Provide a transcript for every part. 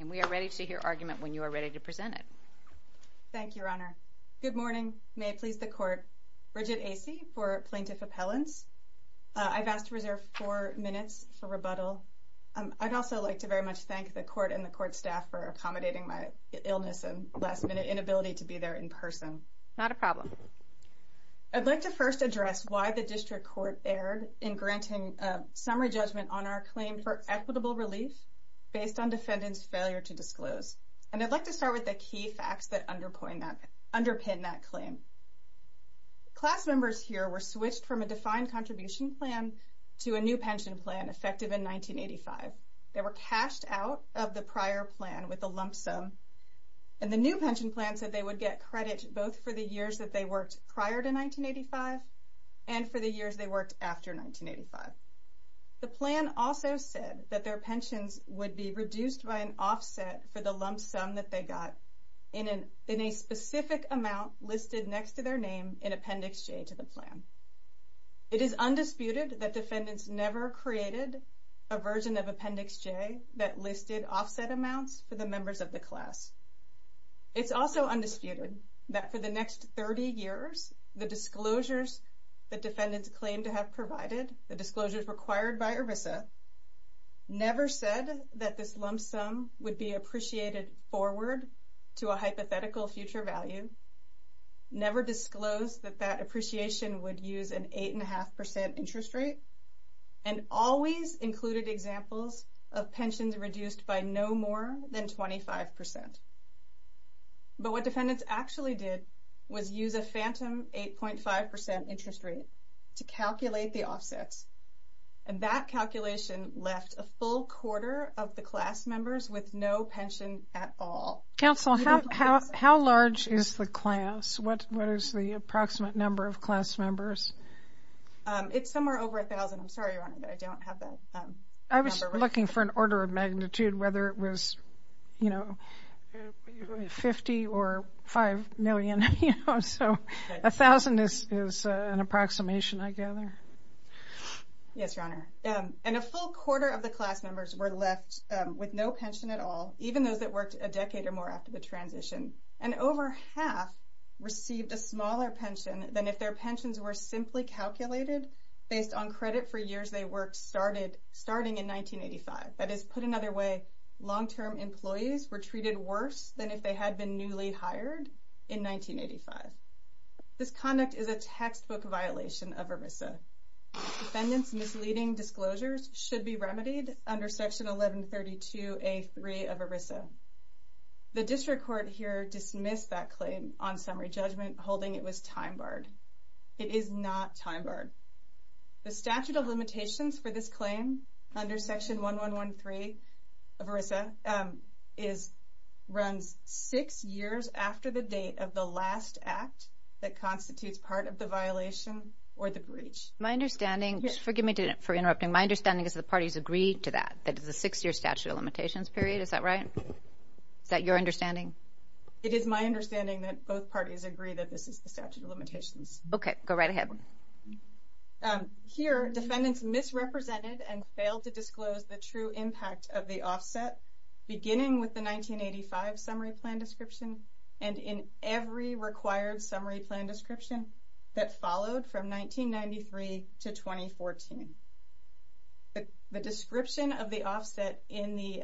And we are ready to hear argument when you are ready to present it. Thank you, Your Honor. Good morning. May it please the Court. Bridget Acy for Plaintiff Appellants. I've asked to reserve four minutes for rebuttal. I'd also like to very much thank the Court and the Court staff for accommodating my illness and last-minute inability to be there in person. Not a problem. I'd like to first address why the District Court erred in granting the plaintiff the summary judgment on our claim for equitable relief based on defendant's failure to disclose. And I'd like to start with the key facts that underpin that claim. Class members here were switched from a defined contribution plan to a new pension plan effective in 1985. They were cashed out of the prior plan with a lump sum, and the new pension plan said they would get credit both for the years that they worked prior to 1985 and for the years they worked after 1985. The plan also said that their pensions would be reduced by an offset for the lump sum that they got in a specific amount listed next to their name in Appendix J to the plan. It is undisputed that defendants never created a version of Appendix J that listed offset amounts for the members of the class. It's also undisputed that for the next 30 years, the disclosures that defendants claimed to have provided, the disclosures required by ERISA, never said that this lump sum would be appreciated forward to a hypothetical future value, never disclosed that that appreciation would use an 8.5% interest rate, and always included examples of pensions reduced by no more than 8.5%. But what defendants actually did was use a phantom 8.5% interest rate to calculate the offsets, and that calculation left a full quarter of the class members with no pension at all. Counsel, how large is the class? What is the approximate number of class members? It's somewhere over 1,000. I'm sorry, Your Honor, but I don't have that number. I was looking for an order of magnitude, whether it was 50 or 5 million, so 1,000 is an approximation I gather. Yes, Your Honor, and a full quarter of the class members were left with no pension at all, even those that worked a decade or more after the transition, and over half received a smaller pension than if their pensions were simply calculated based on credit for years they worked, starting in 1985. That is, put another way, long-term employees were treated worse than if they had been newly hired in 1985. This conduct is a textbook violation of ERISA. Defendants' misleading disclosures should be remedied under Section 1132A3 of ERISA. The district court here dismissed that claim on summary judgment, holding it was time-barred. It is not time-barred. The statute of limitations for this claim, under Section 1113 of ERISA, runs six years after the date of the last act that constitutes part of the violation or the breach. My understanding, just forgive me for interrupting, my understanding is that the parties agreed to that, that it's a six-year statute of limitations period, is that right? Is that your understanding? It is my understanding that both parties agree that this is the statute of limitations. Okay, go right ahead. Here defendants misrepresented and failed to disclose the true impact of the offset, beginning with the 1985 summary plan description and in every required summary plan description that followed from 1993 to 2014. The description of the offset in the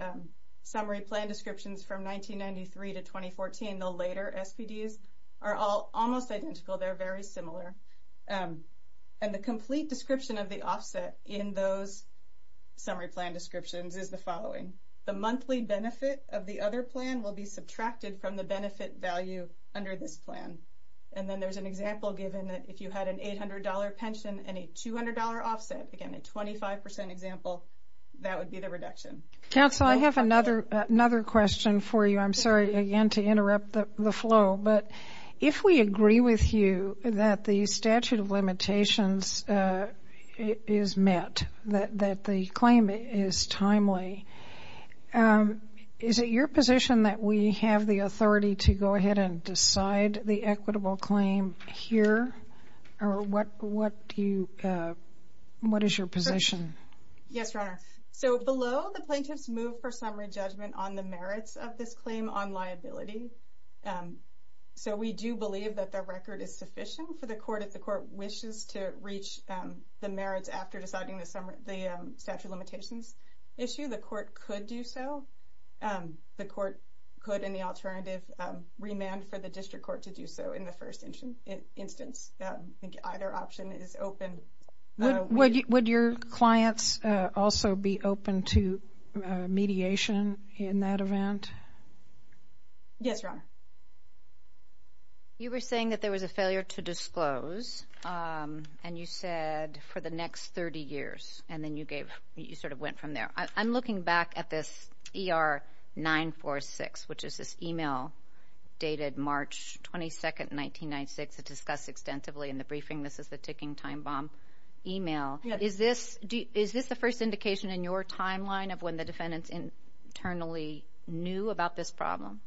summary plan descriptions from 1993 to 2014, the later SPDs, are all almost identical, they're very similar. And the complete description of the offset in those summary plan descriptions is the following. The monthly benefit of the other plan will be subtracted from the benefit value under this plan. And then there's an example given that if you had an $800 pension and a $200 offset, again a 25% example, that would be the reduction. Counsel, I have another question for you. I'm sorry again to interrupt the flow, but if we agree with you that the statute of limitations is met, that the claim is timely, is it your position that we have the authority to go ahead and decide the equitable claim here? Yes, Your Honor. So below, the plaintiffs move for summary judgment on the merits of this claim on liability. So we do believe that the record is sufficient for the court if the court wishes to reach the merits after deciding the statute of limitations issue, the court could do so. The court could, in the alternative, remand for the district court to do so in the first instance. I think either option is open. Would your clients also be open to mediation in that event? Yes, Your Honor. You were saying that there was a failure to disclose and you said for the next 30 years and then you gave, you sort of went from there. I'm looking back at this ER 946, which is this email dated March 22nd, 1996, it's discussed extensively in the briefing, this is the ticking time bomb email, is this the first indication in your timeline of when the defendants internally knew about this problem?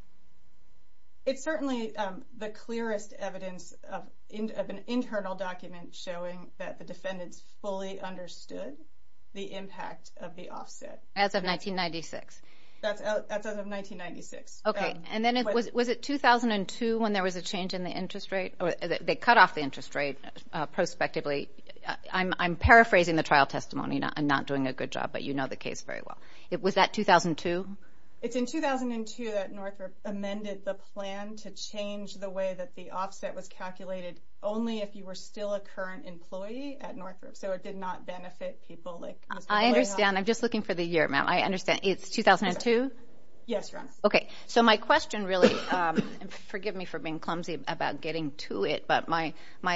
It's certainly the clearest evidence of an internal document showing that the defendants fully understood the impact of the offset. As of 1996? That's as of 1996. Okay, and then was it 2002 when there was a change in the interest rate? They cut off the interest rate prospectively. I'm paraphrasing the trial testimony, I'm not doing a good job, but you know the case very well. Was that 2002? It's in 2002 that Northrop amended the plan to change the way that the offset was calculated only if you were still a current employee at Northrop, so it did not benefit people like Ms. Mollejo. I understand. I'm just looking for the year, ma'am. I understand. It's 2002? Yes, Your Honor. Okay, so my question really, and forgive me for being clumsy about getting to it, but my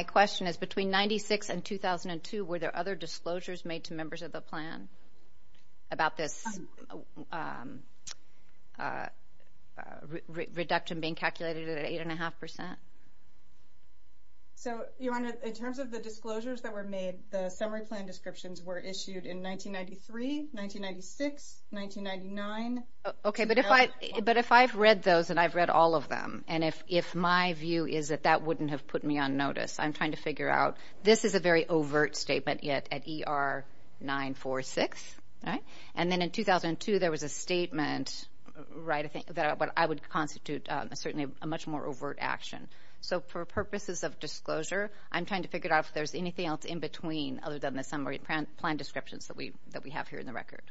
question is between 1996 and 2002, were there other disclosures made to members of the plan about this reduction being calculated at 8.5%? So Your Honor, in terms of the disclosures that were made, the summary plan descriptions were issued in 1993, 1996, 1999. Okay, but if I've read those, and I've read all of them, and if my view is that that wouldn't have put me on notice, I'm trying to figure out. This is a very overt statement yet at ER 946, and then in 2002 there was a statement that I would constitute certainly a much more overt action. So for purposes of disclosure, I'm trying to figure out if there's anything else in between other than the summary plan descriptions that we have here in the record.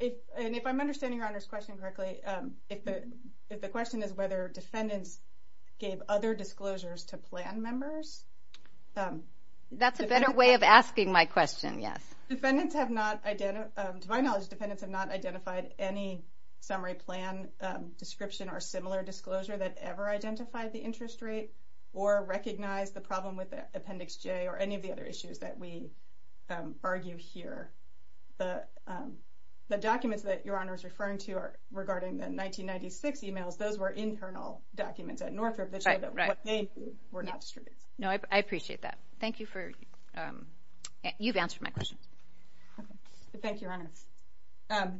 And if I'm understanding Your Honor's question correctly, if the question is whether defendants gave other disclosures to plan members? That's a better way of asking my question, yes. Defendants have not, to my knowledge, defendants have not identified any summary plan description or similar disclosure that ever identified the interest rate or recognized the problem with Appendix J or any of the other issues that we argue here. The documents that Your Honor is referring to regarding the 1996 emails, those were internal documents at Northrop that showed that what they did were not distributed. No, I appreciate that. Thank you for, you've answered my question. Thank you, Your Honor.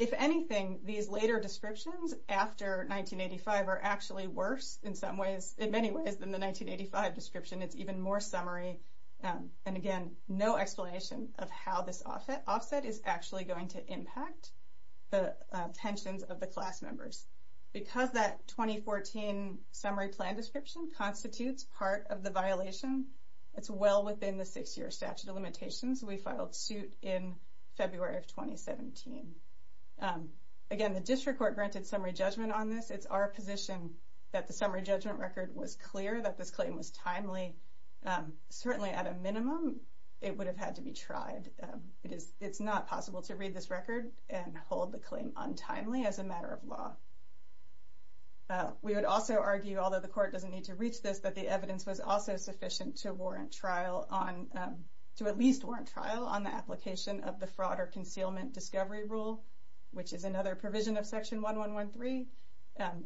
If anything, these later descriptions after 1985 are actually worse in some ways, in many ways than the 1985 description. It's even more summary. And again, no explanation of how this offset is actually going to impact the tensions of the class members. Because that 2014 summary plan description constitutes part of the violation, it's well within the six-year statute of limitations. We filed suit in February of 2017. Again, the district court granted summary judgment on this. It's our position that the summary judgment record was clear, that this claim was timely. Certainly at a minimum, it would have had to be tried. It's not possible to read this record and hold the claim untimely as a matter of law. We would also argue, although the court doesn't need to reach this, that the evidence was also sufficient to warrant trial on, to at least warrant trial on the application of the Fraud or Concealment Discovery Rule, which is another provision of Section 1113.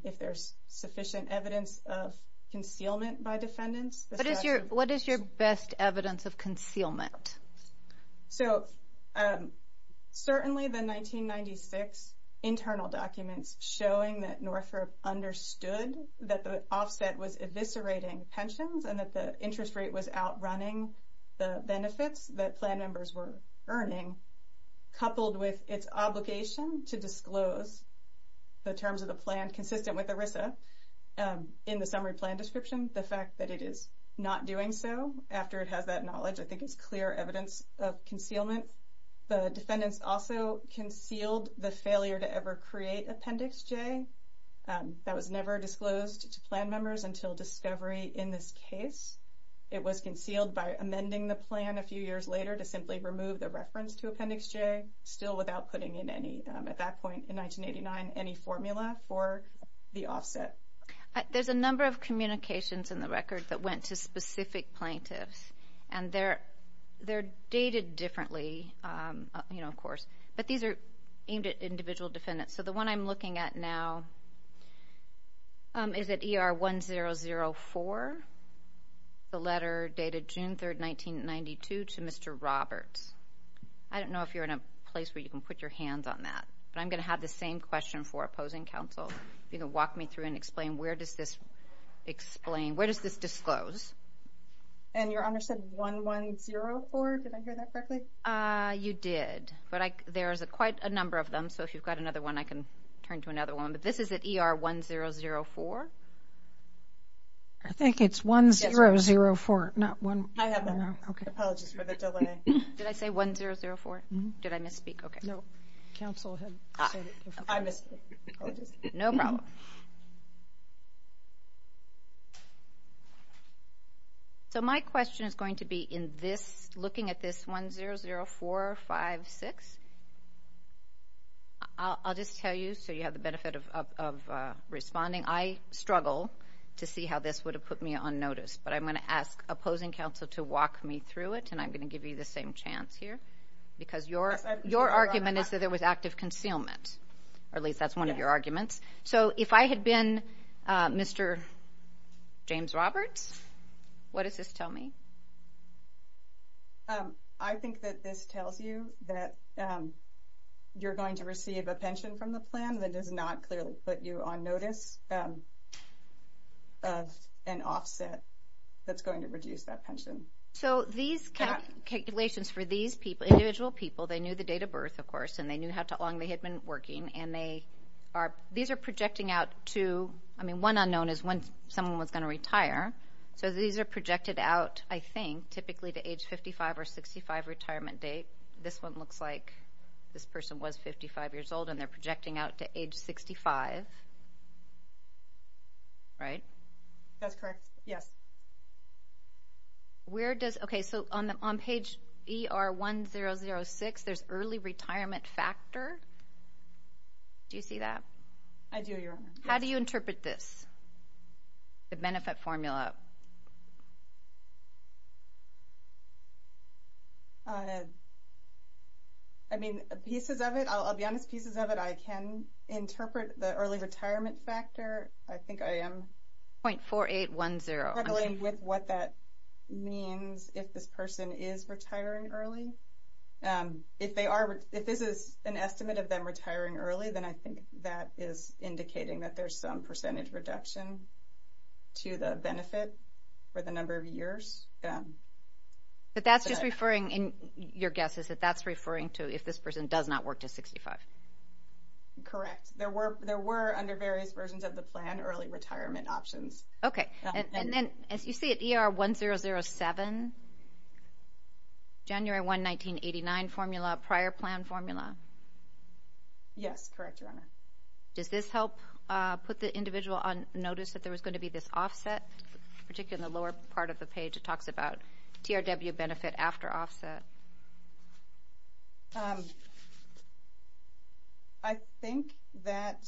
If there's sufficient evidence of concealment by defendants, the statute... What is your best evidence of concealment? So certainly the 1996 internal documents showing that Northrop understood that the offset was eviscerating pensions and that the interest rate was outrunning the benefits that plan members were earning, coupled with its obligation to disclose the terms of the plan consistent with ERISA in the summary plan description, the fact that it is not doing so after it has that knowledge, I think is clear evidence of concealment. The defendants also concealed the failure to ever create Appendix J. That was never disclosed to plan members until discovery in this case. It was concealed by amending the plan a few years later to simply remove the reference to Appendix J, still without putting in any, at that point in 1989, any formula for the offset. There's a number of communications in the record that went to specific plaintiffs, and they're dated differently, you know, of course, but these are aimed at individual defendants. So the one I'm looking at now is at ER 1004, the letter dated June 3rd, 1992, to Mr. Roberts. I don't know if you're in a place where you can put your hands on that, but I'm going to have the same question for opposing counsel, you know, walk me through and explain where does this explain, where does this disclose? And your Honor said 1104, did I hear that correctly? You did. But there's quite a number of them, so if you've got another one, I can turn to another one, but this is at ER 1004? I think it's 1004, not 1004. I have that now. Apologies for the delay. Did I say 1004? Mm-hmm. Did I misspeak? Okay. No. Counsel had said it before. I missed it. Apologies. No problem. So my question is going to be in this, looking at this 100456. I'll just tell you so you have the benefit of responding. I struggle to see how this would have put me on notice, but I'm going to ask opposing counsel to walk me through it, and I'm going to give you the same chance here, because your argument is that there was active concealment, or at least that's one of your arguments. So if I had been Mr. James Roberts, what does this tell me? I think that this tells you that you're going to receive a pension from the plan that does not clearly put you on notice of an offset that's going to reduce that pension. So these calculations for these people, individual people, they knew the date of birth, of course, and they knew how long they had been working, and these are projecting out to, I mean, one unknown is when someone was going to retire. So these are projected out, I think, typically to age 55 or 65 retirement date. This one looks like this person was 55 years old, and they're projecting out to age 65. Right? That's correct. Yes. Where does – okay, so on page ER1006, there's early retirement factor. Do you see that? I do, Your Honor. How do you interpret this, the benefit formula? I mean, pieces of it – I'll be honest, pieces of it, I can interpret the early retirement factor. I think I am – 0.4810. I'm struggling with what that means, if this person is retiring early. If they are – if this is an estimate of them retiring early, then I think that is indicating that there's some percentage reduction to the benefit for the number of years. But that's just referring – your guess is that that's referring to if this person does not work to 65. Correct. Yes, there were, under various versions of the plan, early retirement options. Okay. And then, as you see at ER1007, January 1, 1989 formula, prior plan formula. Yes, correct, Your Honor. Does this help put the individual on notice that there was going to be this offset? Particularly in the lower part of the page, it talks about TRW benefit after offset. I think that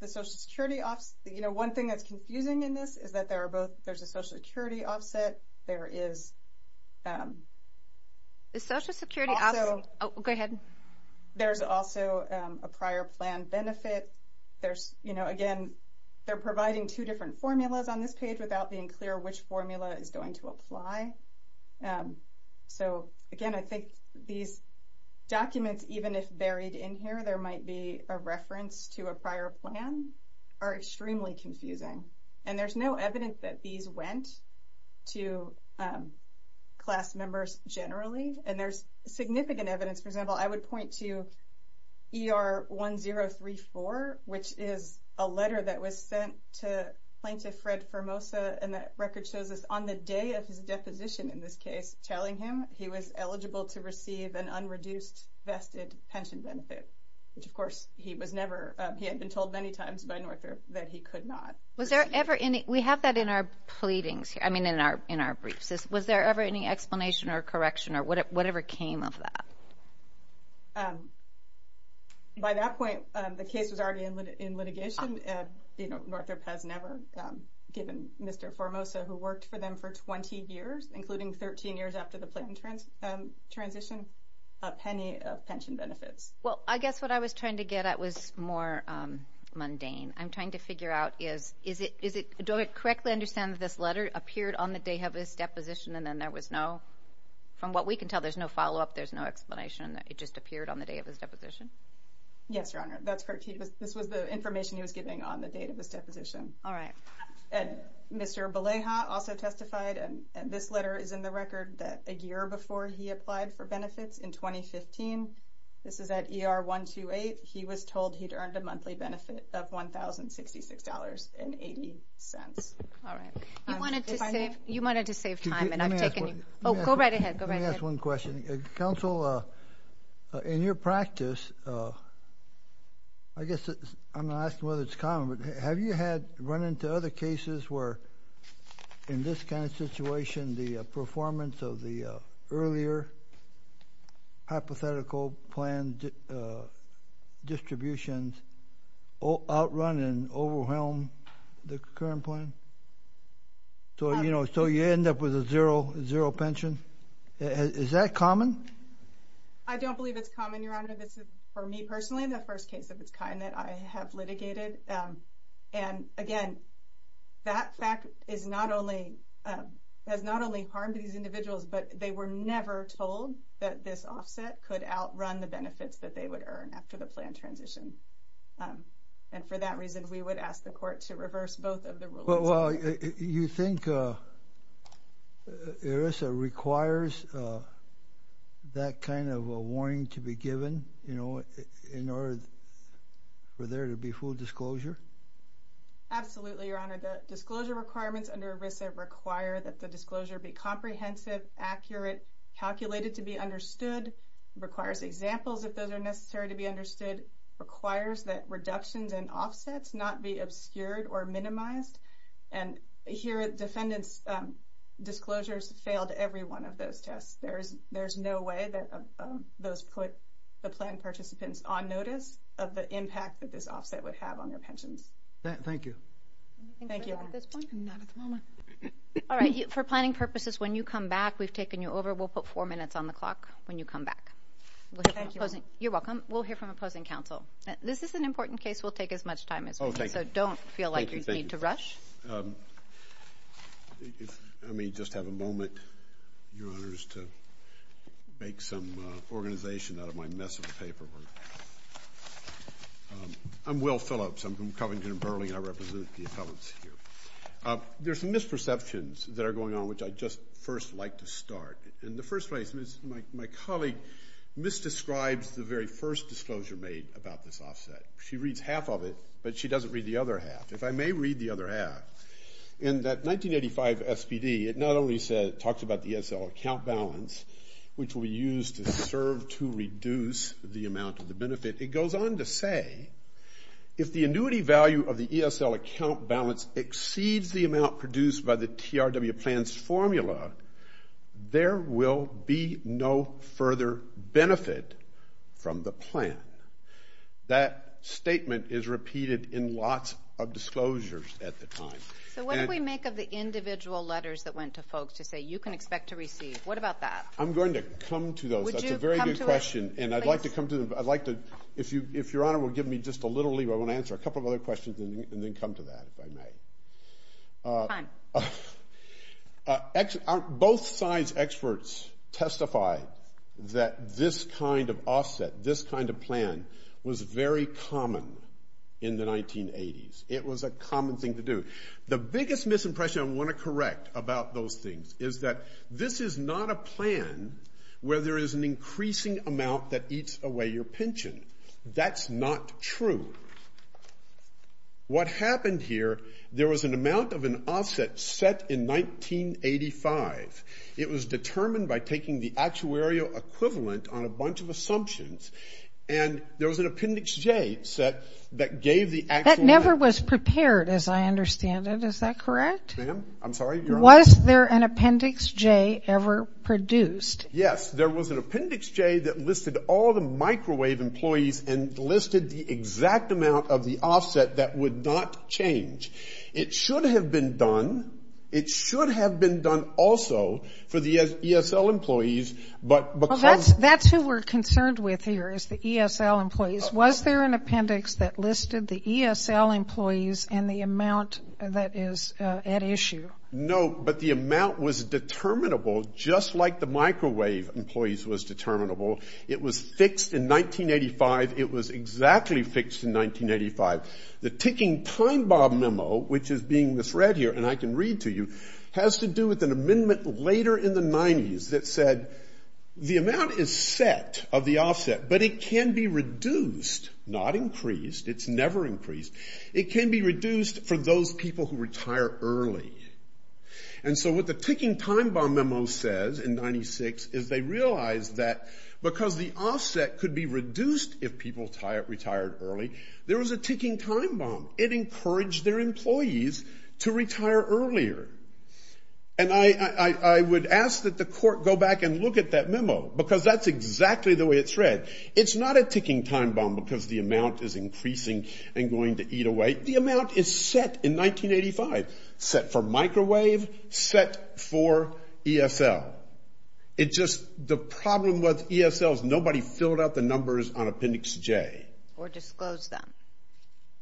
the Social Security – you know, one thing that's confusing in this is that there are both – there's a Social Security offset, there is – The Social Security – Also – Oh, go ahead. There's also a prior plan benefit. There's – you know, again, they're providing two different formulas on this page without being clear which formula is going to apply. So, again, I think these documents, even if buried in here, there might be a reference to a prior plan, are extremely confusing. And there's no evidence that these went to class members generally. And there's significant evidence. For example, I would point to ER1034, which is a letter that was sent to Plaintiff Fred Hermosa, and that record shows us on the day of his deposition in this case, telling him he was eligible to receive an unreduced vested pension benefit, which, of course, he was never – he had been told many times by Northrop that he could not. Was there ever any – we have that in our pleadings here – I mean, in our briefs. Was there ever any explanation or correction or whatever came of that? By that point, the case was already in litigation. You know, Northrop has never given Mr. Hermosa, who worked for them for 20 years, including 13 years after the plan transition, a penny of pension benefits. Well, I guess what I was trying to get at was more mundane. I'm trying to figure out, is it – do I correctly understand that this letter appeared on the day of his deposition and then there was no – from what we can tell, there's no follow-up, there's no explanation, it just appeared on the day of his deposition? Yes, Your Honor. That's correct. This was the information he was giving on the date of his deposition. All right. And Mr. Beleha also testified, and this letter is in the record, that a year before he applied for benefits in 2015 – this is at ER-128 – he was told he'd earned a monthly benefit of $1,066.80. All right. You wanted to save time, and I've taken you – Let me ask one – Oh, go right ahead. Go right ahead. Just one question. Counsel, in your practice, I guess I'm not asking whether it's common, but have you had – run into other cases where, in this kind of situation, the performance of the earlier hypothetical plan distributions outrun and overwhelm the current plan? So, you know, so you end up with a zero pension? Is that common? I don't believe it's common, Your Honor. This is, for me personally, the first case of its kind that I have litigated. And again, that fact is not only – has not only harmed these individuals, but they were never told that this offset could outrun the benefits that they would earn after the plan transition. And for that reason, we would ask the court to reverse both of the rulings. Well, you think ERISA requires that kind of a warning to be given, you know, in order for there to be full disclosure? Absolutely, Your Honor. The disclosure requirements under ERISA require that the disclosure be comprehensive, accurate, calculated to be understood, requires examples if those are necessary to be understood, requires that reductions and offsets not be obscured or minimized. And here, defendants' disclosures failed every one of those tests. There's no way that those put the plan participants on notice of the impact that this offset would have on their pensions. Thank you. Thank you. I think we're done at this point? Not at the moment. All right. For planning purposes, when you come back, we've taken you over. We'll put four minutes on the clock when you come back. Thank you. You're welcome. We'll hear from opposing counsel. This is an important case. We'll take as much time as we need. Oh, thank you. Thank you. So don't feel like you need to rush. Let me just have a moment, Your Honors, to make some organization out of my mess of paperwork. I'm Will Phillips. I'm from Covington & Burling, and I represent the appellants here. There's some misperceptions that are going on, which I'd just first like to start. My colleague misdescribes the very first disclosure made about this offset. She reads half of it, but she doesn't read the other half. If I may read the other half, in that 1985 SPD, it not only talks about the ESL account balance, which will be used to serve to reduce the amount of the benefit, it goes on to say, if the annuity value of the ESL account balance exceeds the amount produced by the TRW plan's user, there will be no further benefit from the plan. That statement is repeated in lots of disclosures at the time. So what do we make of the individual letters that went to folks to say, you can expect to receive? What about that? I'm going to come to those. That's a very good question. Would you come to it? Please. And I'd like to come to them. If Your Honor will give me just a little leave, I want to answer a couple of other questions and then come to that, if I may. Fine. Both sides' experts testify that this kind of offset, this kind of plan, was very common in the 1980s. It was a common thing to do. The biggest misimpression I want to correct about those things is that this is not a plan where there is an increasing amount that eats away your pension. That's not true. What happened here, there was an amount of an offset set in 1985. It was determined by taking the actuarial equivalent on a bunch of assumptions. And there was an Appendix J set that gave the actual amount. That never was prepared, as I understand it. Is that correct? Ma'am, I'm sorry, Your Honor. Was there an Appendix J ever produced? Yes. There was an Appendix J that listed all the microwave employees and listed the exact amount of the offset that would not change. It should have been done. It should have been done also for the ESL employees, but because of the ESL employees. That's who we're concerned with here is the ESL employees. Was there an Appendix that listed the ESL employees and the amount that is at issue? No. But the amount was determinable just like the microwave employees was determinable. It was fixed in 1985. It was exactly fixed in 1985. The ticking time bomb memo, which is being misread here, and I can read to you, has to do with an amendment later in the 90s that said the amount is set of the offset, but it can be reduced, not increased. It's never increased. It can be reduced for those people who retire early. And so what the ticking time bomb memo says in 96 is they realize that because the offset could be reduced if people retired early, there was a ticking time bomb. It encouraged their employees to retire earlier. And I would ask that the court go back and look at that memo because that's exactly the way it's read. It's not a ticking time bomb because the amount is increasing and going to eat away. The amount is set in 1985, set for microwave, set for ESL. It's just the problem with ESL is nobody filled out the numbers on Appendix J. Or disclosed them.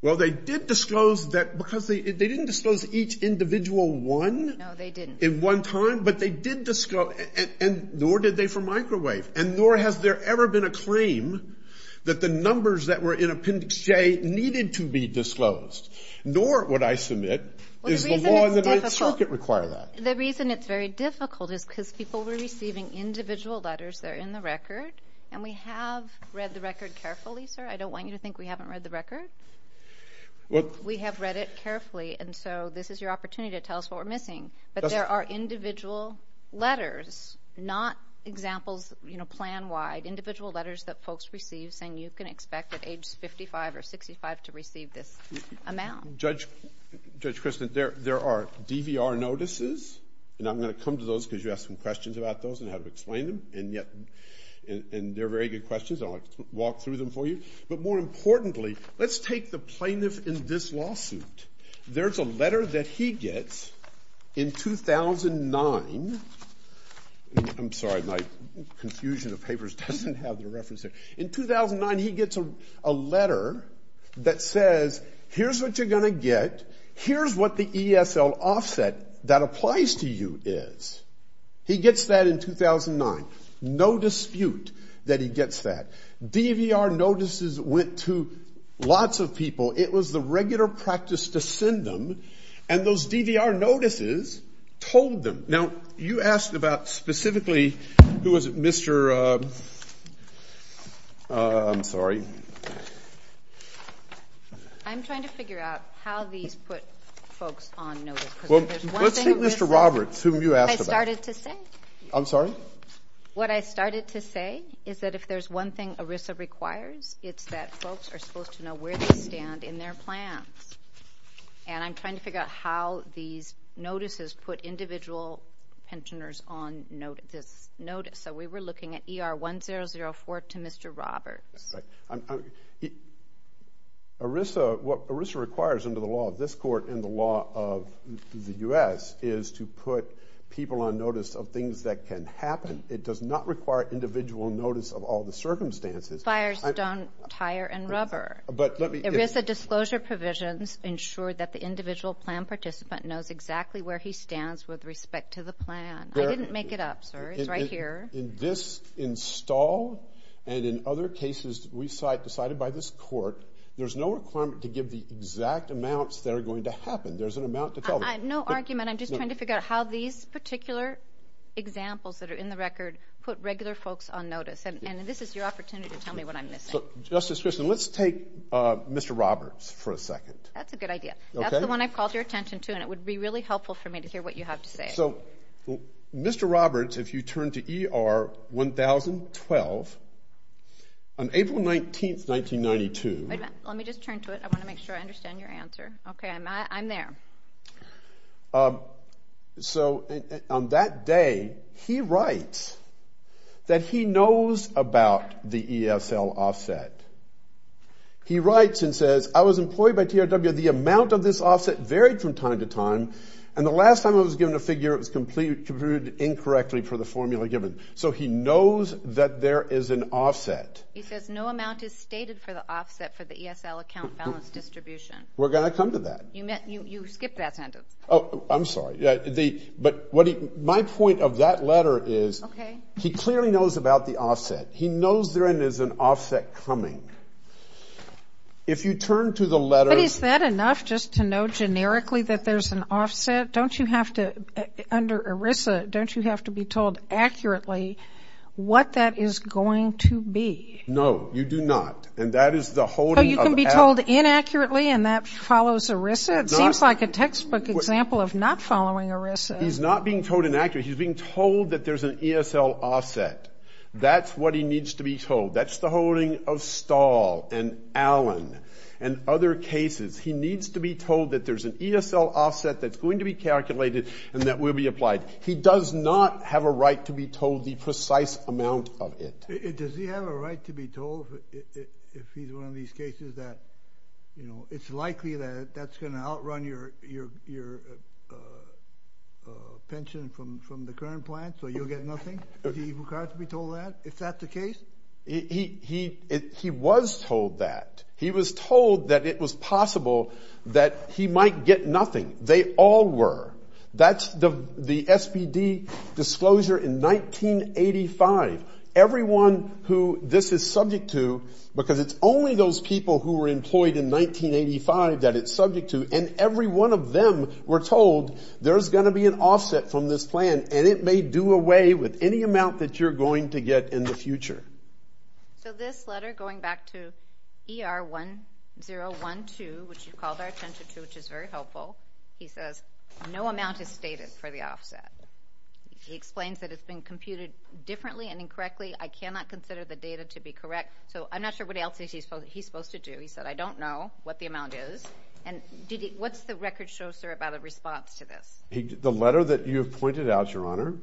Well, they did disclose that because they didn't disclose each individual one. No, they didn't. In one time, but they did disclose, and nor did they for microwave, and nor has there ever been a claim that the numbers that were in Appendix J needed to be disclosed. Nor would I submit is the law in the Ninth Circuit require that. The reason it's very difficult is because people were receiving individual letters that are in the record, and we have read the record carefully, sir. I don't want you to think we haven't read the record. We have read it carefully, and so this is your opportunity to tell us what we're missing. But there are individual letters, not examples plan-wide, individual letters that folks receive saying you can expect at age 55 or 65 to receive this amount. Judge Kristen, there are DVR notices, and I'm going to come to those because you asked some questions about those and how to explain them, and they're very good questions. I'll walk through them for you. But more importantly, let's take the plaintiff in this lawsuit. There's a letter that he gets in 2009. I'm sorry. My confusion of papers doesn't have the reference there. In 2009, he gets a letter that says here's what you're going to get. Here's what the ESL offset that applies to you is. He gets that in 2009. No dispute that he gets that. DVR notices went to lots of people. It was the regular practice to send them, and those DVR notices told them. Now, you asked about specifically, who was it, Mr. I'm sorry. I'm trying to figure out how these put folks on notice. Let's take Mr. Roberts, whom you asked about. I started to say. I'm sorry? What I started to say is that if there's one thing ERISA requires, it's that folks are supposed to know where they stand in their plans. And I'm trying to figure out how these notices put individual pensioners on notice. So we were looking at ER 1004 to Mr. Roberts. What ERISA requires under the law of this court and the law of the U.S. is to put people on notice of things that can happen. It does not require individual notice of all the circumstances. Fires don't tire and rubber. ERISA disclosure provisions ensure that the individual plan participant knows exactly where he stands with respect to the plan. I didn't make it up, sir. It's right here. In this install and in other cases decided by this court, there's no requirement to give the exact amounts that are going to happen. There's an amount to tell them. No argument. I'm just trying to figure out how these particular examples that are in the record put regular folks on notice. And this is your opportunity to tell me what I'm missing. So, Justice Christian, let's take Mr. Roberts for a second. That's a good idea. That's the one I've called your attention to, and it would be really helpful for me to hear what you have to say. So, Mr. Roberts, if you turn to ER 10012, on April 19, 1992. Wait a minute. Let me just turn to it. I want to make sure I understand your answer. Okay. I'm there. So, on that day, he writes that he knows about the ESL offset. He writes and says, I was employed by TRW, the amount of this offset varied from time to time, and the last time I was given a figure, it was computed incorrectly for the formula given. So he knows that there is an offset. He says no amount is stated for the offset for the ESL account balance distribution. We're going to come to that. You skipped that sentence. Oh, I'm sorry. But my point of that letter is he clearly knows about the offset. He knows there is an offset coming. If you turn to the letter. But is that enough just to know generically that there's an offset? Don't you have to, under ERISA, don't you have to be told accurately what that is going to be? No, you do not. And that is the whole thing. He can be told inaccurately and that follows ERISA? It seems like a textbook example of not following ERISA. He's not being told inaccurately. He's being told that there's an ESL offset. That's what he needs to be told. That's the holding of Stahl and Allen and other cases. He needs to be told that there's an ESL offset that's going to be calculated and that will be applied. He does not have a right to be told the precise amount of it. Does he have a right to be told if he's one of these cases that, you know, it's likely that that's going to outrun your pension from the current plan so you'll get nothing? Does he require to be told that if that's the case? He was told that. He was told that it was possible that he might get nothing. They all were. That's the SPD disclosure in 1985. Everyone who this is subject to, because it's only those people who were employed in 1985 that it's subject to, and every one of them were told there's going to be an offset from this plan and it may do away with any amount that you're going to get in the future. So this letter going back to ER1012, which you called our attention to, which is very helpful, he says no amount is stated for the offset. He explains that it's been computed differently and incorrectly. I cannot consider the data to be correct. So I'm not sure what else he's supposed to do. He said, I don't know what the amount is. And what's the record show, sir, about a response to this? The letter that you have pointed out, Your Honor,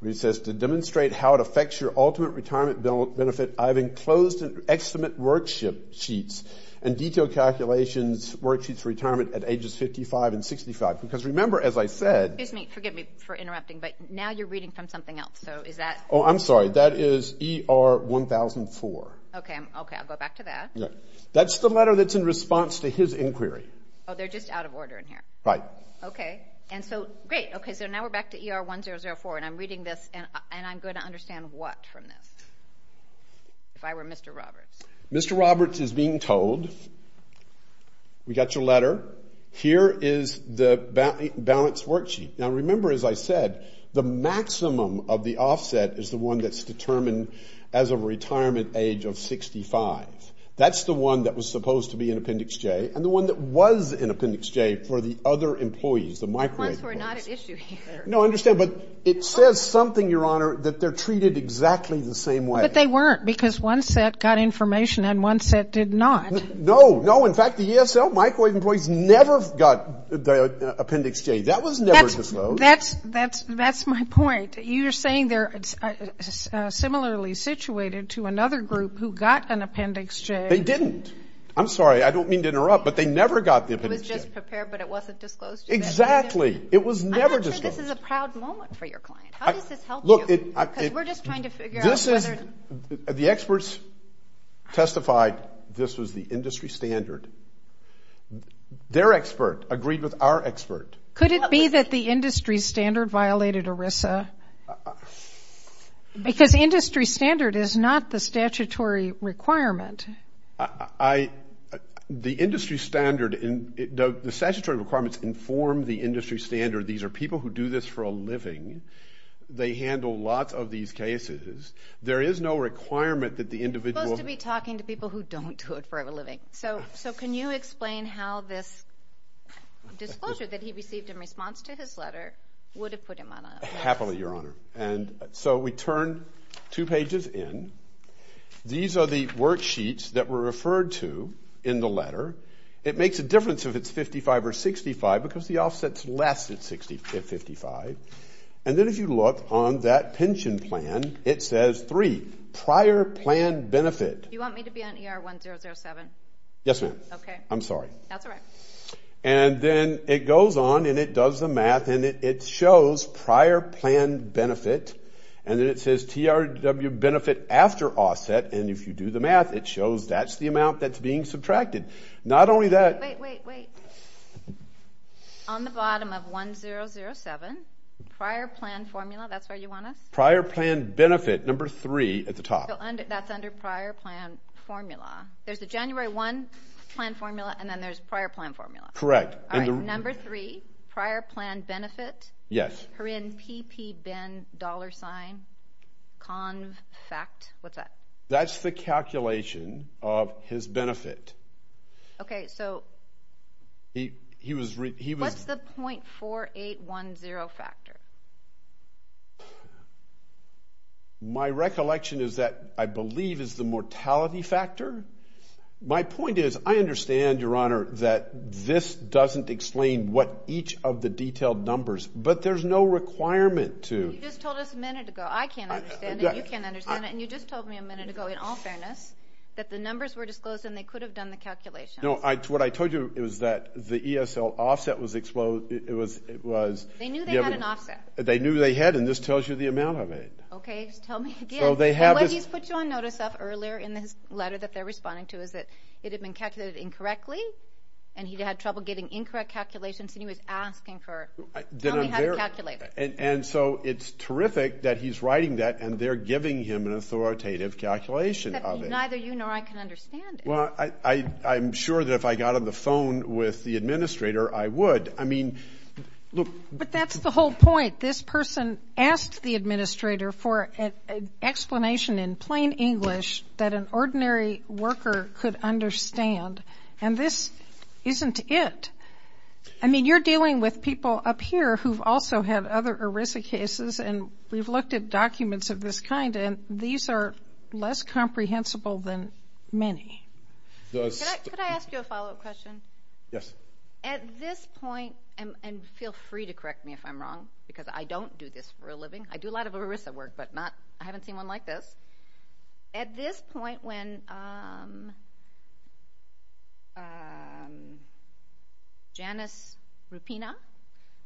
where he says to demonstrate how it affects your ultimate retirement benefit, I've enclosed in extant worksheets and detailed calculations worksheets for retirement at ages 55 and 65. Because remember, as I said, Excuse me. Forgive me for interrupting, but now you're reading from something else. So is that? Oh, I'm sorry. That is ER1004. Okay. Okay. I'll go back to that. That's the letter that's in response to his inquiry. Oh, they're just out of order in here. Right. Okay. And so, great. Okay. So now we're back to ER1004, and I'm reading this, and I'm going to understand what from this if I were Mr. Roberts. Mr. Roberts is being told, we got your letter. Here is the balance worksheet. Now, remember, as I said, the maximum of the offset is the one that's determined as a retirement age of 65. That's the one that was supposed to be in Appendix J, and the one that was in Appendix J for the other employees, the microwave employees. The ones who are not at issue here. No, I understand, but it says something, Your Honor, that they're treated exactly the same way. But they weren't, because one set got information and one set did not. No, no. In fact, the ESL microwave employees never got Appendix J. That was never disclosed. That's my point. You're saying they're similarly situated to another group who got an Appendix J. They didn't. I'm sorry. I don't mean to interrupt, but they never got the Appendix J. It was just prepared, but it wasn't disclosed to them. Exactly. It was never disclosed. I'm not sure this is a proud moment for your client. How does this help you? Because we're just trying to figure out whether. The experts testified this was the industry standard. Their expert agreed with our expert. Could it be that the industry standard violated ERISA? Because industry standard is not the statutory requirement. The industry standard, the statutory requirements inform the industry standard. These are people who do this for a living. They handle lots of these cases. There is no requirement that the individual. You're supposed to be talking to people who don't do it for a living. So can you explain how this disclosure that he received in response to his letter would have put him on a. Happily, Your Honor. And so we turn two pages in. These are the worksheets that were referred to in the letter. It makes a difference if it's 55 or 65 because the offset's less than 55. And then if you look on that pension plan, it says three, prior plan benefit. You want me to be on ER 1007? Yes, ma'am. Okay. I'm sorry. That's all right. And then it goes on and it does the math and it shows prior plan benefit. And then it says TRW benefit after offset. And if you do the math, it shows that's the amount that's being subtracted. Not only that. Wait, wait, wait. On the bottom of 1007, prior plan formula. That's where you want us? Prior plan benefit, number three at the top. That's under prior plan formula. There's the January 1 plan formula and then there's prior plan formula. Correct. All right. Number three, prior plan benefit. Yes. PPPBIN$CONFACT. What's that? That's the calculation of his benefit. Okay. So what's the .4810 factor? My recollection is that I believe is the mortality factor. My point is I understand, Your Honor, that this doesn't explain what each of the detailed numbers. But there's no requirement to. You just told us a minute ago. I can't understand it. You can't understand it. And you just told me a minute ago, in all fairness, that the numbers were disclosed and they could have done the calculations. No. What I told you is that the ESL offset was exposed. They knew they had an offset. They knew they had, and this tells you the amount of it. Okay. Tell me again. What he's put you on notice of earlier in this letter that they're responding to is that it had been calculated incorrectly and he had trouble getting incorrect calculations, and he was asking her, tell me how to calculate it. And so it's terrific that he's writing that and they're giving him an authoritative calculation of it. But neither you nor I can understand it. Well, I'm sure that if I got on the phone with the administrator, I would. I mean, look. But that's the whole point. This person asked the administrator for an explanation in plain English that an ordinary worker could understand, and this isn't it. I mean, you're dealing with people up here who've also had other ERISA cases, and we've looked at documents of this kind, and these are less comprehensible than many. Could I ask you a follow-up question? Yes. At this point, and feel free to correct me if I'm wrong, because I don't do this for a living. I do a lot of ERISA work, but I haven't seen one like this. At this point, when Janice Rupina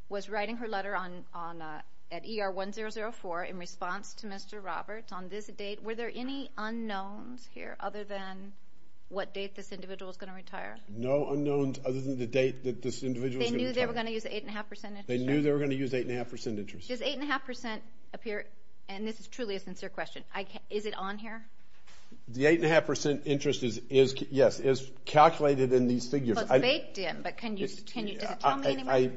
was writing her letter at ER 1004 in response to Mr. Roberts on this date, were there any unknowns here other than what date this individual is going to retire? No unknowns other than the date that this individual is going to retire. They knew they were going to use the 8.5% interest rate? They knew they were going to use the 8.5% interest rate. Does 8.5% appearóand this is truly a sincere questionóis it on here? The 8.5% interest is, yes, calculated in these figures. Well, it's baked in, but can youódoes it tell me anyway?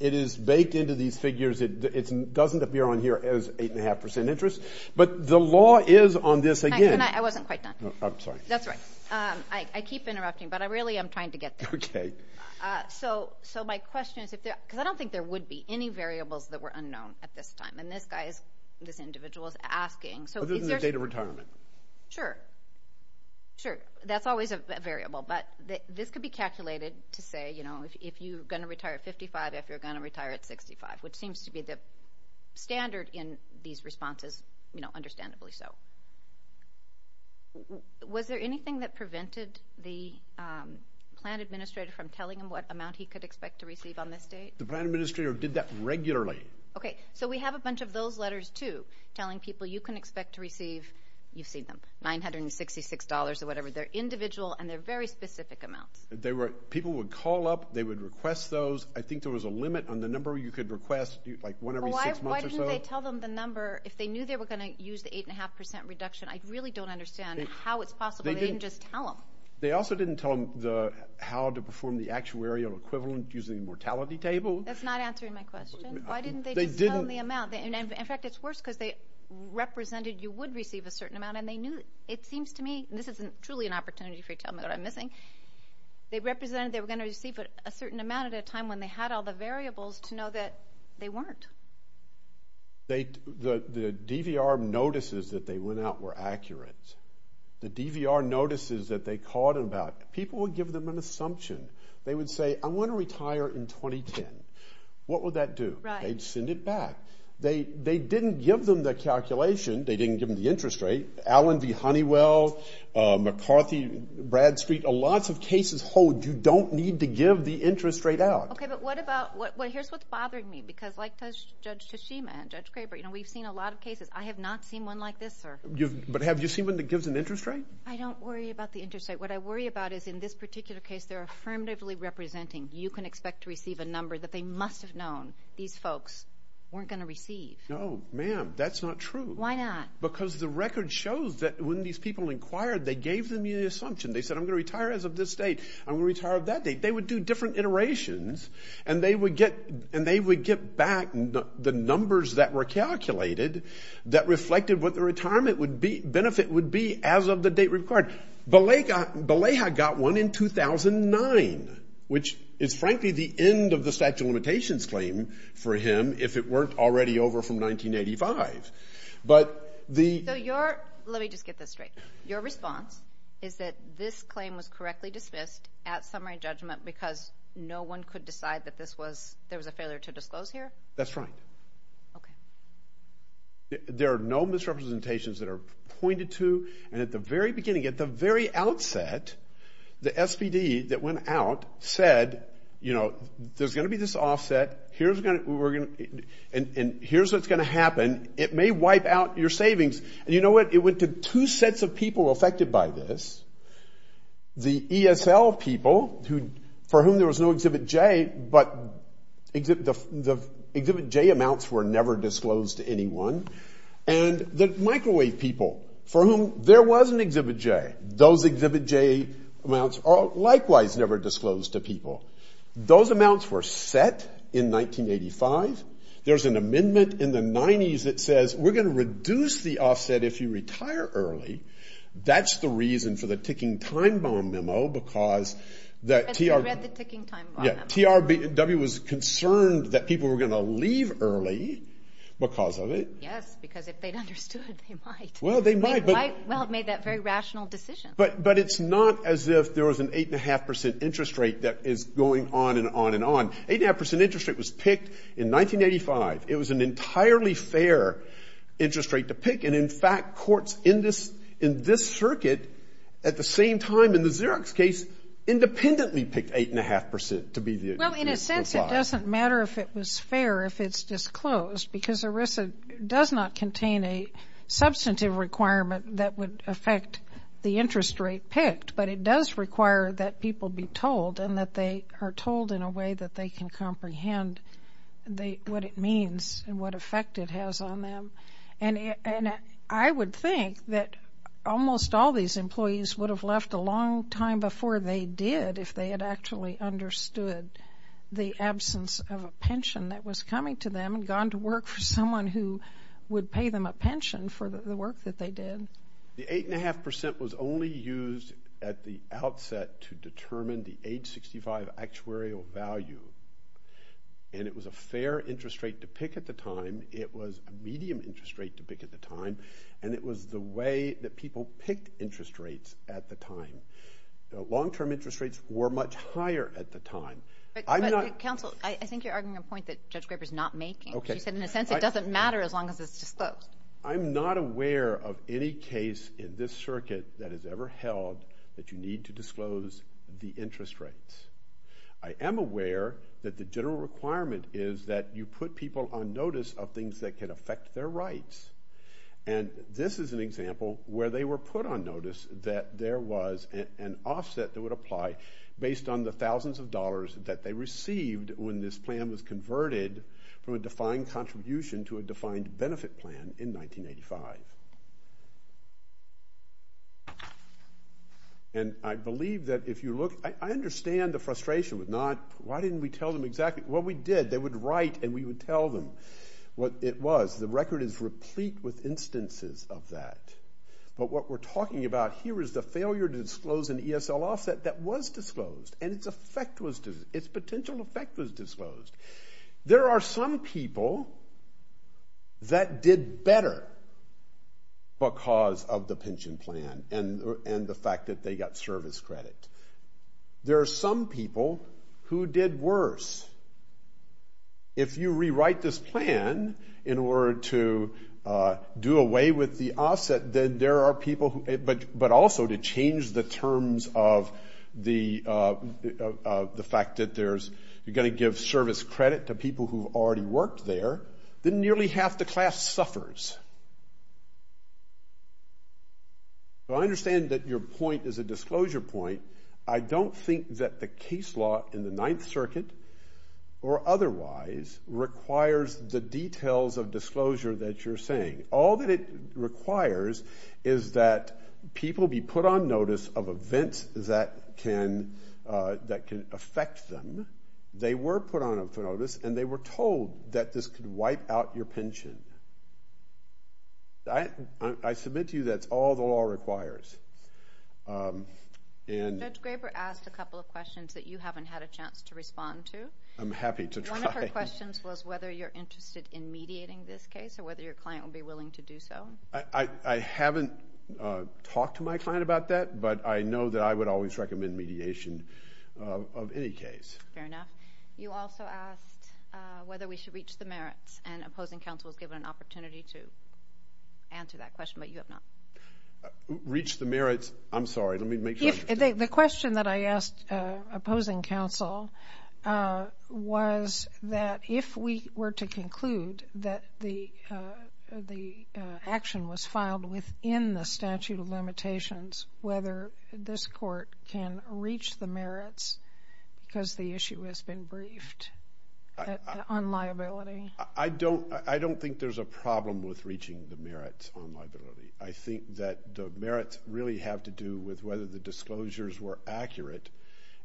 It is baked into these figures. It doesn't appear on here as 8.5% interest. But the law is on this, againó Can IóI wasn't quite done. I'm sorry. That's all right. I keep interrupting, but I really am trying to get there. Okay. So my question isóbecause I don't think there would be any variables that were unknown at this time, and this guy isóthis individual is askingó Other than the date of retirement. Sure. Sure. That's always a variable, but this could be calculated to say, you know, if you're going to retire at 55, if you're going to retire at 65, which seems to be the standard in these responses, you know, understandably so. Was there anything that prevented the plan administrator from telling him what amount he could expect to receive on this date? The plan administrator did that regularly. Okay. So we have a bunch of those letters, too, telling people you can expect to receiveóyou've seen themó$966 or whatever. They're individual, and they're very specific amounts. People would call up. They would request those. I think there was a limit on the number you could request, like one every six months or so. Well, why didn't they tell them the numberó I really don't understand how it's possible they didn't just tell them. They also didn't tell them how to perform the actuarial equivalent using the mortality table. That's not answering my question. Why didn't they just tell them the amount? In fact, it's worse because they represented you would receive a certain amount, and they knewóit seems to meóthis isn't truly an opportunity for you to tell me what I'm missingó they represented they were going to receive a certain amount at a time when they had all the variables to know that they weren't. The DVR notices that they went out were accurate. The DVR notices that they called in aboutó people would give them an assumption. They would say, I want to retire in 2010. What would that do? They'd send it back. They didn't give them the calculation. They didn't give them the interest rate. Allen v. Honeywell, McCarthy, Bradstreet, lots of cases hold you don't need to give the interest rate out. Okay, but what aboutóhere's what's bothering me, because like Judge Tashima and Judge Graber, we've seen a lot of cases. I have not seen one like this, sir. But have you seen one that gives an interest rate? I don't worry about the interest rate. What I worry about is in this particular case, they're affirmatively representing you can expect to receive a number that they must have known these folks weren't going to receive. No, ma'am, that's not true. Why not? Because the record shows that when these people inquired, they gave them the assumption. They said, I'm going to retire as of this date. I'm going to retire that date. They would do different iterations, and they would get back the numbers that were calculated that reflected what the retirement benefit would be as of the date required. Beleha got one in 2009, which is frankly the end of the statute of limitations claim for him if it weren't already over from 1985. But theó So yourólet me just get this straight. Your response is that this claim was correctly dismissed at summary judgment because no one could decide that this wasóthere was a failure to disclose here? That's right. Okay. There are no misrepresentations that are pointed to. And at the very beginning, at the very outset, the SPD that went out said, you know, there's going to be this offset. Here's what's going to happen. It may wipe out your savings. And you know what? It went to two sets of people affected by this. The ESL people for whom there was no Exhibit J, but the Exhibit J amounts were never disclosed to anyone. And the microwave people for whom there was an Exhibit J, those Exhibit J amounts are likewise never disclosed to people. Those amounts were set in 1985. There's an amendment in the 90s that says we're going to reduce the offset if you retire early. That's the reason for the ticking time bomb memo becauseó I read the ticking time bomb memo. Yeah. TRW was concerned that people were going to leave early because of it. Yes, because if they'd understood, they might. Well, they might. Well, it made that very rational decision. But it's not as if there was an 8.5% interest rate that is going on and on and on. 8.5% interest rate was picked in 1985. It was an entirely fair interest rate to pick. And, in fact, courts in this circuit, at the same time, in the Xerox case, independently picked 8.5% to be theó Well, in a sense, it doesn't matter if it was fair if it's disclosed because ERISA does not contain a substantive requirement that would affect the interest rate picked. But it does require that people be told and that they are told in a way that they can comprehend what it means and what effect it has on them. And I would think that almost all these employees would have left a long time before they did if they had actually understood the absence of a pension that was coming to them and gone to work for someone who would pay them a pension for the work that they did. The 8.5% was only used at the outset to determine the age 65 actuarial value. And it was a fair interest rate to pick at the time. It was a medium interest rate to pick at the time. And it was the way that people picked interest rates at the time. The long-term interest rates were much higher at the time. I'm notó But, counsel, I think you're arguing a point that Judge Graber is not making. Okay. She said, in a sense, it doesn't matter as long as it's disclosed. I'm not aware of any case in this circuit that has ever held that you need to disclose the interest rates. I am aware that the general requirement is that you put people on notice of things that can affect their rights. And this is an example where they were put on notice that there was an offset that would apply based on the thousands of dollars that they received when this plan was converted from a defined contribution to a defined benefit plan in 1985. And I believe that if you lookóI understand the frustration with notó Why didn't we tell them exactlyó? Well, we did. They would write, and we would tell them what it was. The record is replete with instances of that. But what we're talking about here is the failure to disclose an ESL offset that was disclosed, and its effect wasóits potential effect was disclosed. There are some people that did better because of the pension plan and the fact that they got service credit. There are some people who did worse. If you rewrite this plan in order to do away with the offset, then there are people whoó but also to change the terms of the fact that there'só you're going to give service credit to people who've already worked there, then nearly half the class suffers. So I understand that your point is a disclosure point. I don't think that the case law in the Ninth Circuit, or otherwise, requires the details of disclosure that you're saying. All that it requires is that people be put on notice of events that can affect them. They were put on notice, and they were told that this could wipe out your pension. I submit to you that's all the law requires. Judge Graber asked a couple of questions that you haven't had a chance to respond to. I'm happy to try. One of her questions was whether you're interested in mediating this case or whether your client would be willing to do so. I haven't talked to my client about that, but I know that I would always recommend mediation of any case. Fair enough. You also asked whether we should reach the merits, and opposing counsel was given an opportunity to answer that question, but you have not. Reach the merits. I'm sorry. Let me make sure. The question that I asked opposing counsel was that if we were to conclude that the action was filed within the statute of limitations, whether this court can reach the merits because the issue has been briefed on liability. I don't think there's a problem with reaching the merits on liability. I think that the merits really have to do with whether the disclosures were accurate,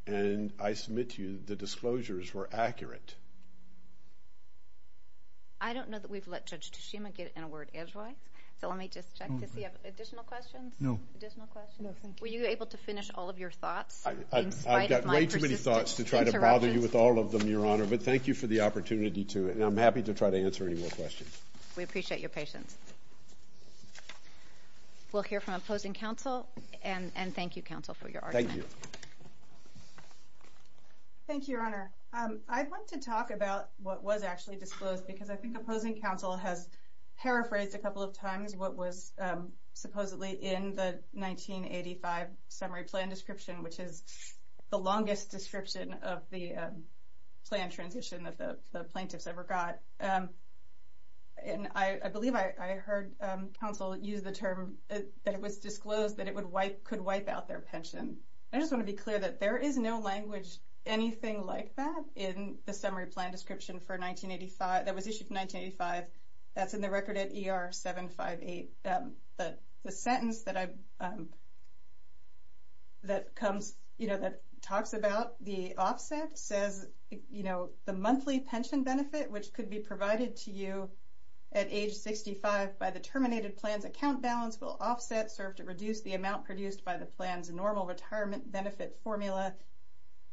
and I submit to you the disclosures were accurate. I don't know that we've let Judge Toshima get in a word as well, so let me just check. Does he have additional questions? No. Additional questions? No, thank you. Were you able to finish all of your thoughts in spite of my persistent interruptions? I've got way too many thoughts to try to bother you with all of them, Your Honor, but thank you for the opportunity to, and I'm happy to try to answer any more questions. We appreciate your patience. We'll hear from opposing counsel, and thank you, counsel, for your argument. Thank you. Thank you, Your Honor. I want to talk about what was actually disclosed, because I think opposing counsel has paraphrased a couple of times what was supposedly in the 1985 summary plan description, which is the longest description of the plan transition that the plaintiffs ever got, and I believe I heard counsel use the term that it was disclosed that it could wipe out their pension. I just want to be clear that there is no language, anything like that, in the summary plan description that was issued in 1985. That's in the record at ER 758. The sentence that talks about the offset says the monthly pension benefit, which could be provided to you at age 65 by the terminated plan's account balance, will offset, serve to reduce the amount produced by the plan's normal retirement benefit formula.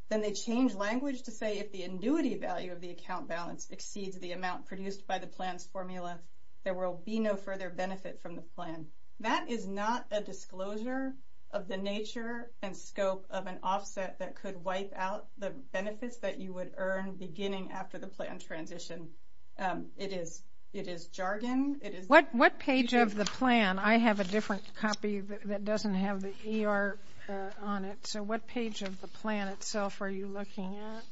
Then they change language to say if the annuity value of the account balance exceeds the amount produced by the plan's formula, there will be no further benefit from the plan. That is not a disclosure of the nature and scope of an offset that could wipe out the benefits that you would earn beginning after the plan transition. It is jargon. What page of the plan? I have a different copy that doesn't have the ER on it. So what page of the plan itself are you looking at?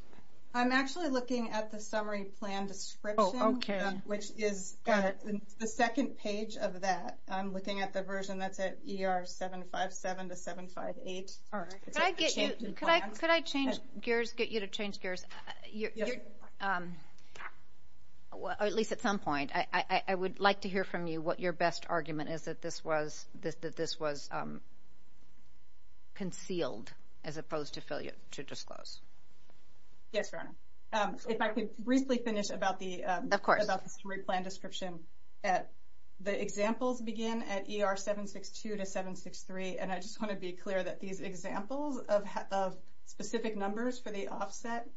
I'm actually looking at the summary plan description, which is the second page of that. I'm looking at the version that's at ER 757 to 758. Could I get you to change gears? At least at some point. I would like to hear from you what your best argument is that this was concealed as opposed to to disclose. Yes, Your Honor. If I could briefly finish about the summary plan description. The examples begin at ER 762 to 763, and I just want to be clear that these offset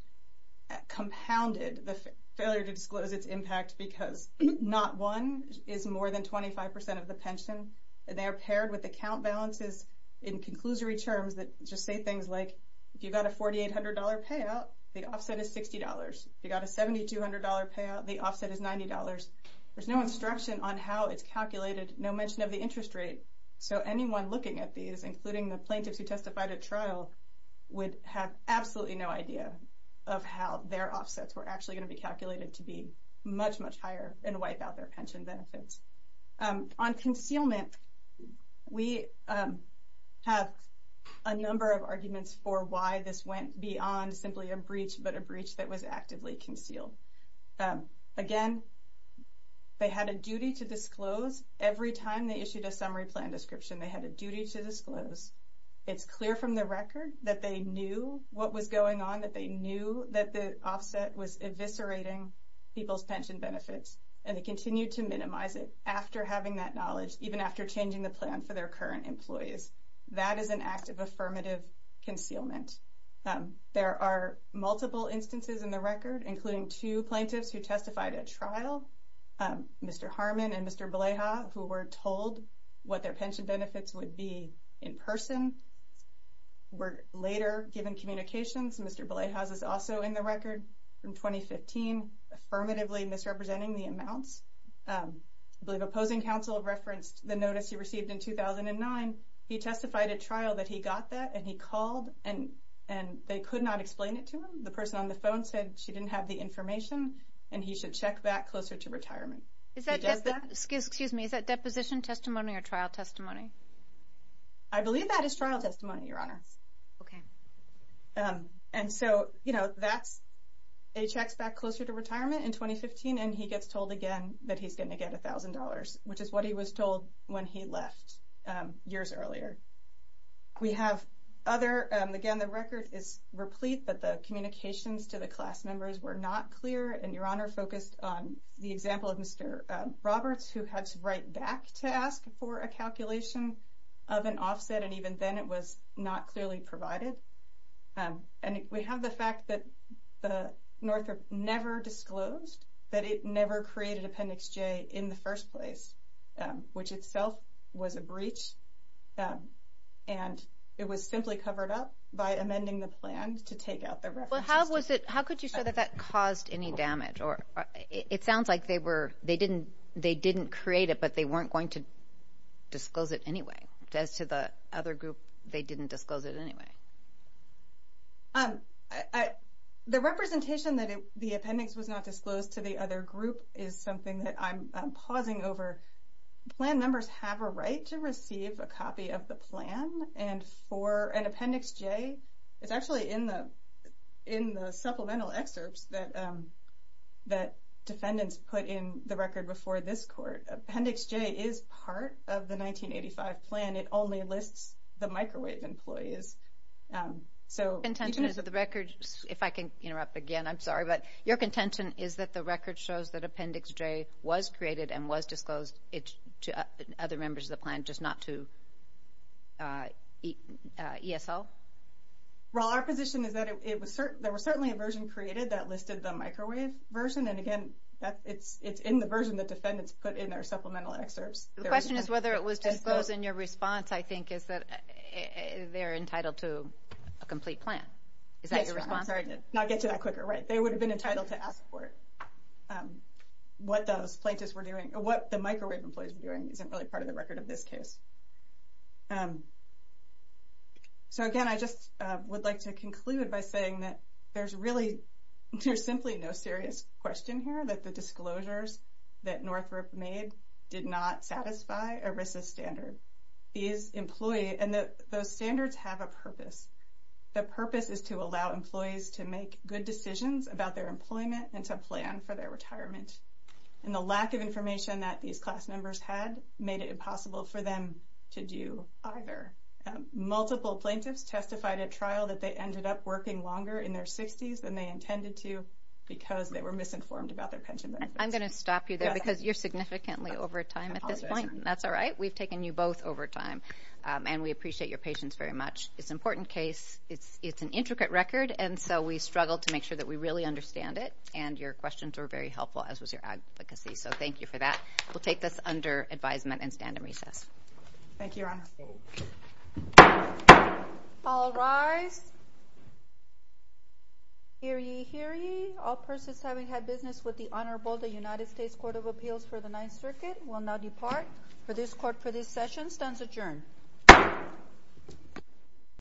compounded the failure to disclose its impact because not one is more than 25% of the pension, and they are paired with account balances in conclusory terms that just say things like if you got a $4,800 payout, the offset is $60. If you got a $7,200 payout, the offset is $90. There's no instruction on how it's calculated, no mention of the interest rate. So anyone looking at these, including the plaintiffs who testified at trial, would have absolutely no idea of how their offsets were actually going to be calculated to be much, much higher and wipe out their pension benefits. On concealment, we have a number of arguments for why this went beyond simply a breach, but a breach that was actively concealed. Again, they had a duty to disclose. Every time they issued a summary plan description, they had a duty to disclose. It's clear from the record that they knew what was going on, that they knew that the offset was eviscerating people's pension benefits, and they continued to minimize it after having that knowledge, even after changing the plan for their current employees. That is an act of affirmative concealment. There are multiple instances in the record, including two plaintiffs who testified at trial, Mr. Harmon and Mr. Beleha, who were told what their pension benefits would be in person, were later given communications. Mr. Beleha's is also in the record from 2015, affirmatively misrepresenting the amounts. I believe opposing counsel referenced the notice he received in 2009. He testified at trial that he got that, and he called, and they could not explain it to him. The person on the phone said she didn't have the information, and he should check back closer to retirement. He does that? Excuse me. Is that deposition testimony or trial testimony? I believe that is trial testimony, Your Honor. Okay. And so, you know, that's a check's back closer to retirement in 2015, and he gets told again that he's going to get $1,000, which is what he was told when he left years earlier. We have other, again, the record is replete, but the communications to the class members were not clear, and Your Honor focused on the example of Mr. Roberts, who had to write back to ask for a calculation of an offset, and even then it was not clearly provided. And we have the fact that Northrop never disclosed that it never created Appendix J in the first place, which itself was a breach, and it was simply covered up by amending the plan to take out the reference to it. Well, how could you show that that caused any damage? It sounds like they didn't create it, but they weren't going to disclose it anyway. As to the other group, they didn't disclose it anyway. The representation that the appendix was not disclosed to the other group is something that I'm pausing over. Plan members have a right to receive a copy of the plan, and for an Appendix J, it's actually in the supplemental excerpts that defendants put in the record before this court. Appendix J is part of the 1985 plan. It only lists the microwave employees. Your contention is that the record, if I can interrupt again, I'm sorry, but your contention is that the record shows that Appendix J was created and was disclosed to other members of the plan, just not to ESL? Well, our position is that there was certainly a version created that listed the microwave version, and, again, it's in the version that defendants put in their supplemental excerpts. The question is whether it was disclosed, and your response, I think, is that they're entitled to a complete plan. Is that your response? Sorry to not get to that quicker. Right, they would have been entitled to ask for it. What those plaintiffs were doing, or what the microwave employees were doing, isn't really part of the record of this case. So, again, I just would like to conclude by saying that there's really, there's simply no serious question here that the disclosures that Northrop made did not satisfy a RISA standard. These employees, and those standards have a purpose. The purpose is to allow employees to make good decisions about their employment and to plan for their retirement. And the lack of information that these class members had made it impossible for them to do either. Multiple plaintiffs testified at trial that they ended up working longer in their 60s than they intended to because they were misinformed about their pension benefits. I'm going to stop you there because you're significantly over time at this point. That's all right. We've taken you both over time, and we appreciate your patience very much. It's an important case. It's an intricate record, and so we struggled to make sure that we really understand it, and your questions were very helpful, as was your advocacy. So thank you for that. We'll take this under advisement and stand in recess. Thank you, Your Honor. All rise. Hear ye, hear ye. All persons having had business with the Honorable United States Court of Appeals for the Ninth Circuit will now depart. The court for this session stands adjourned.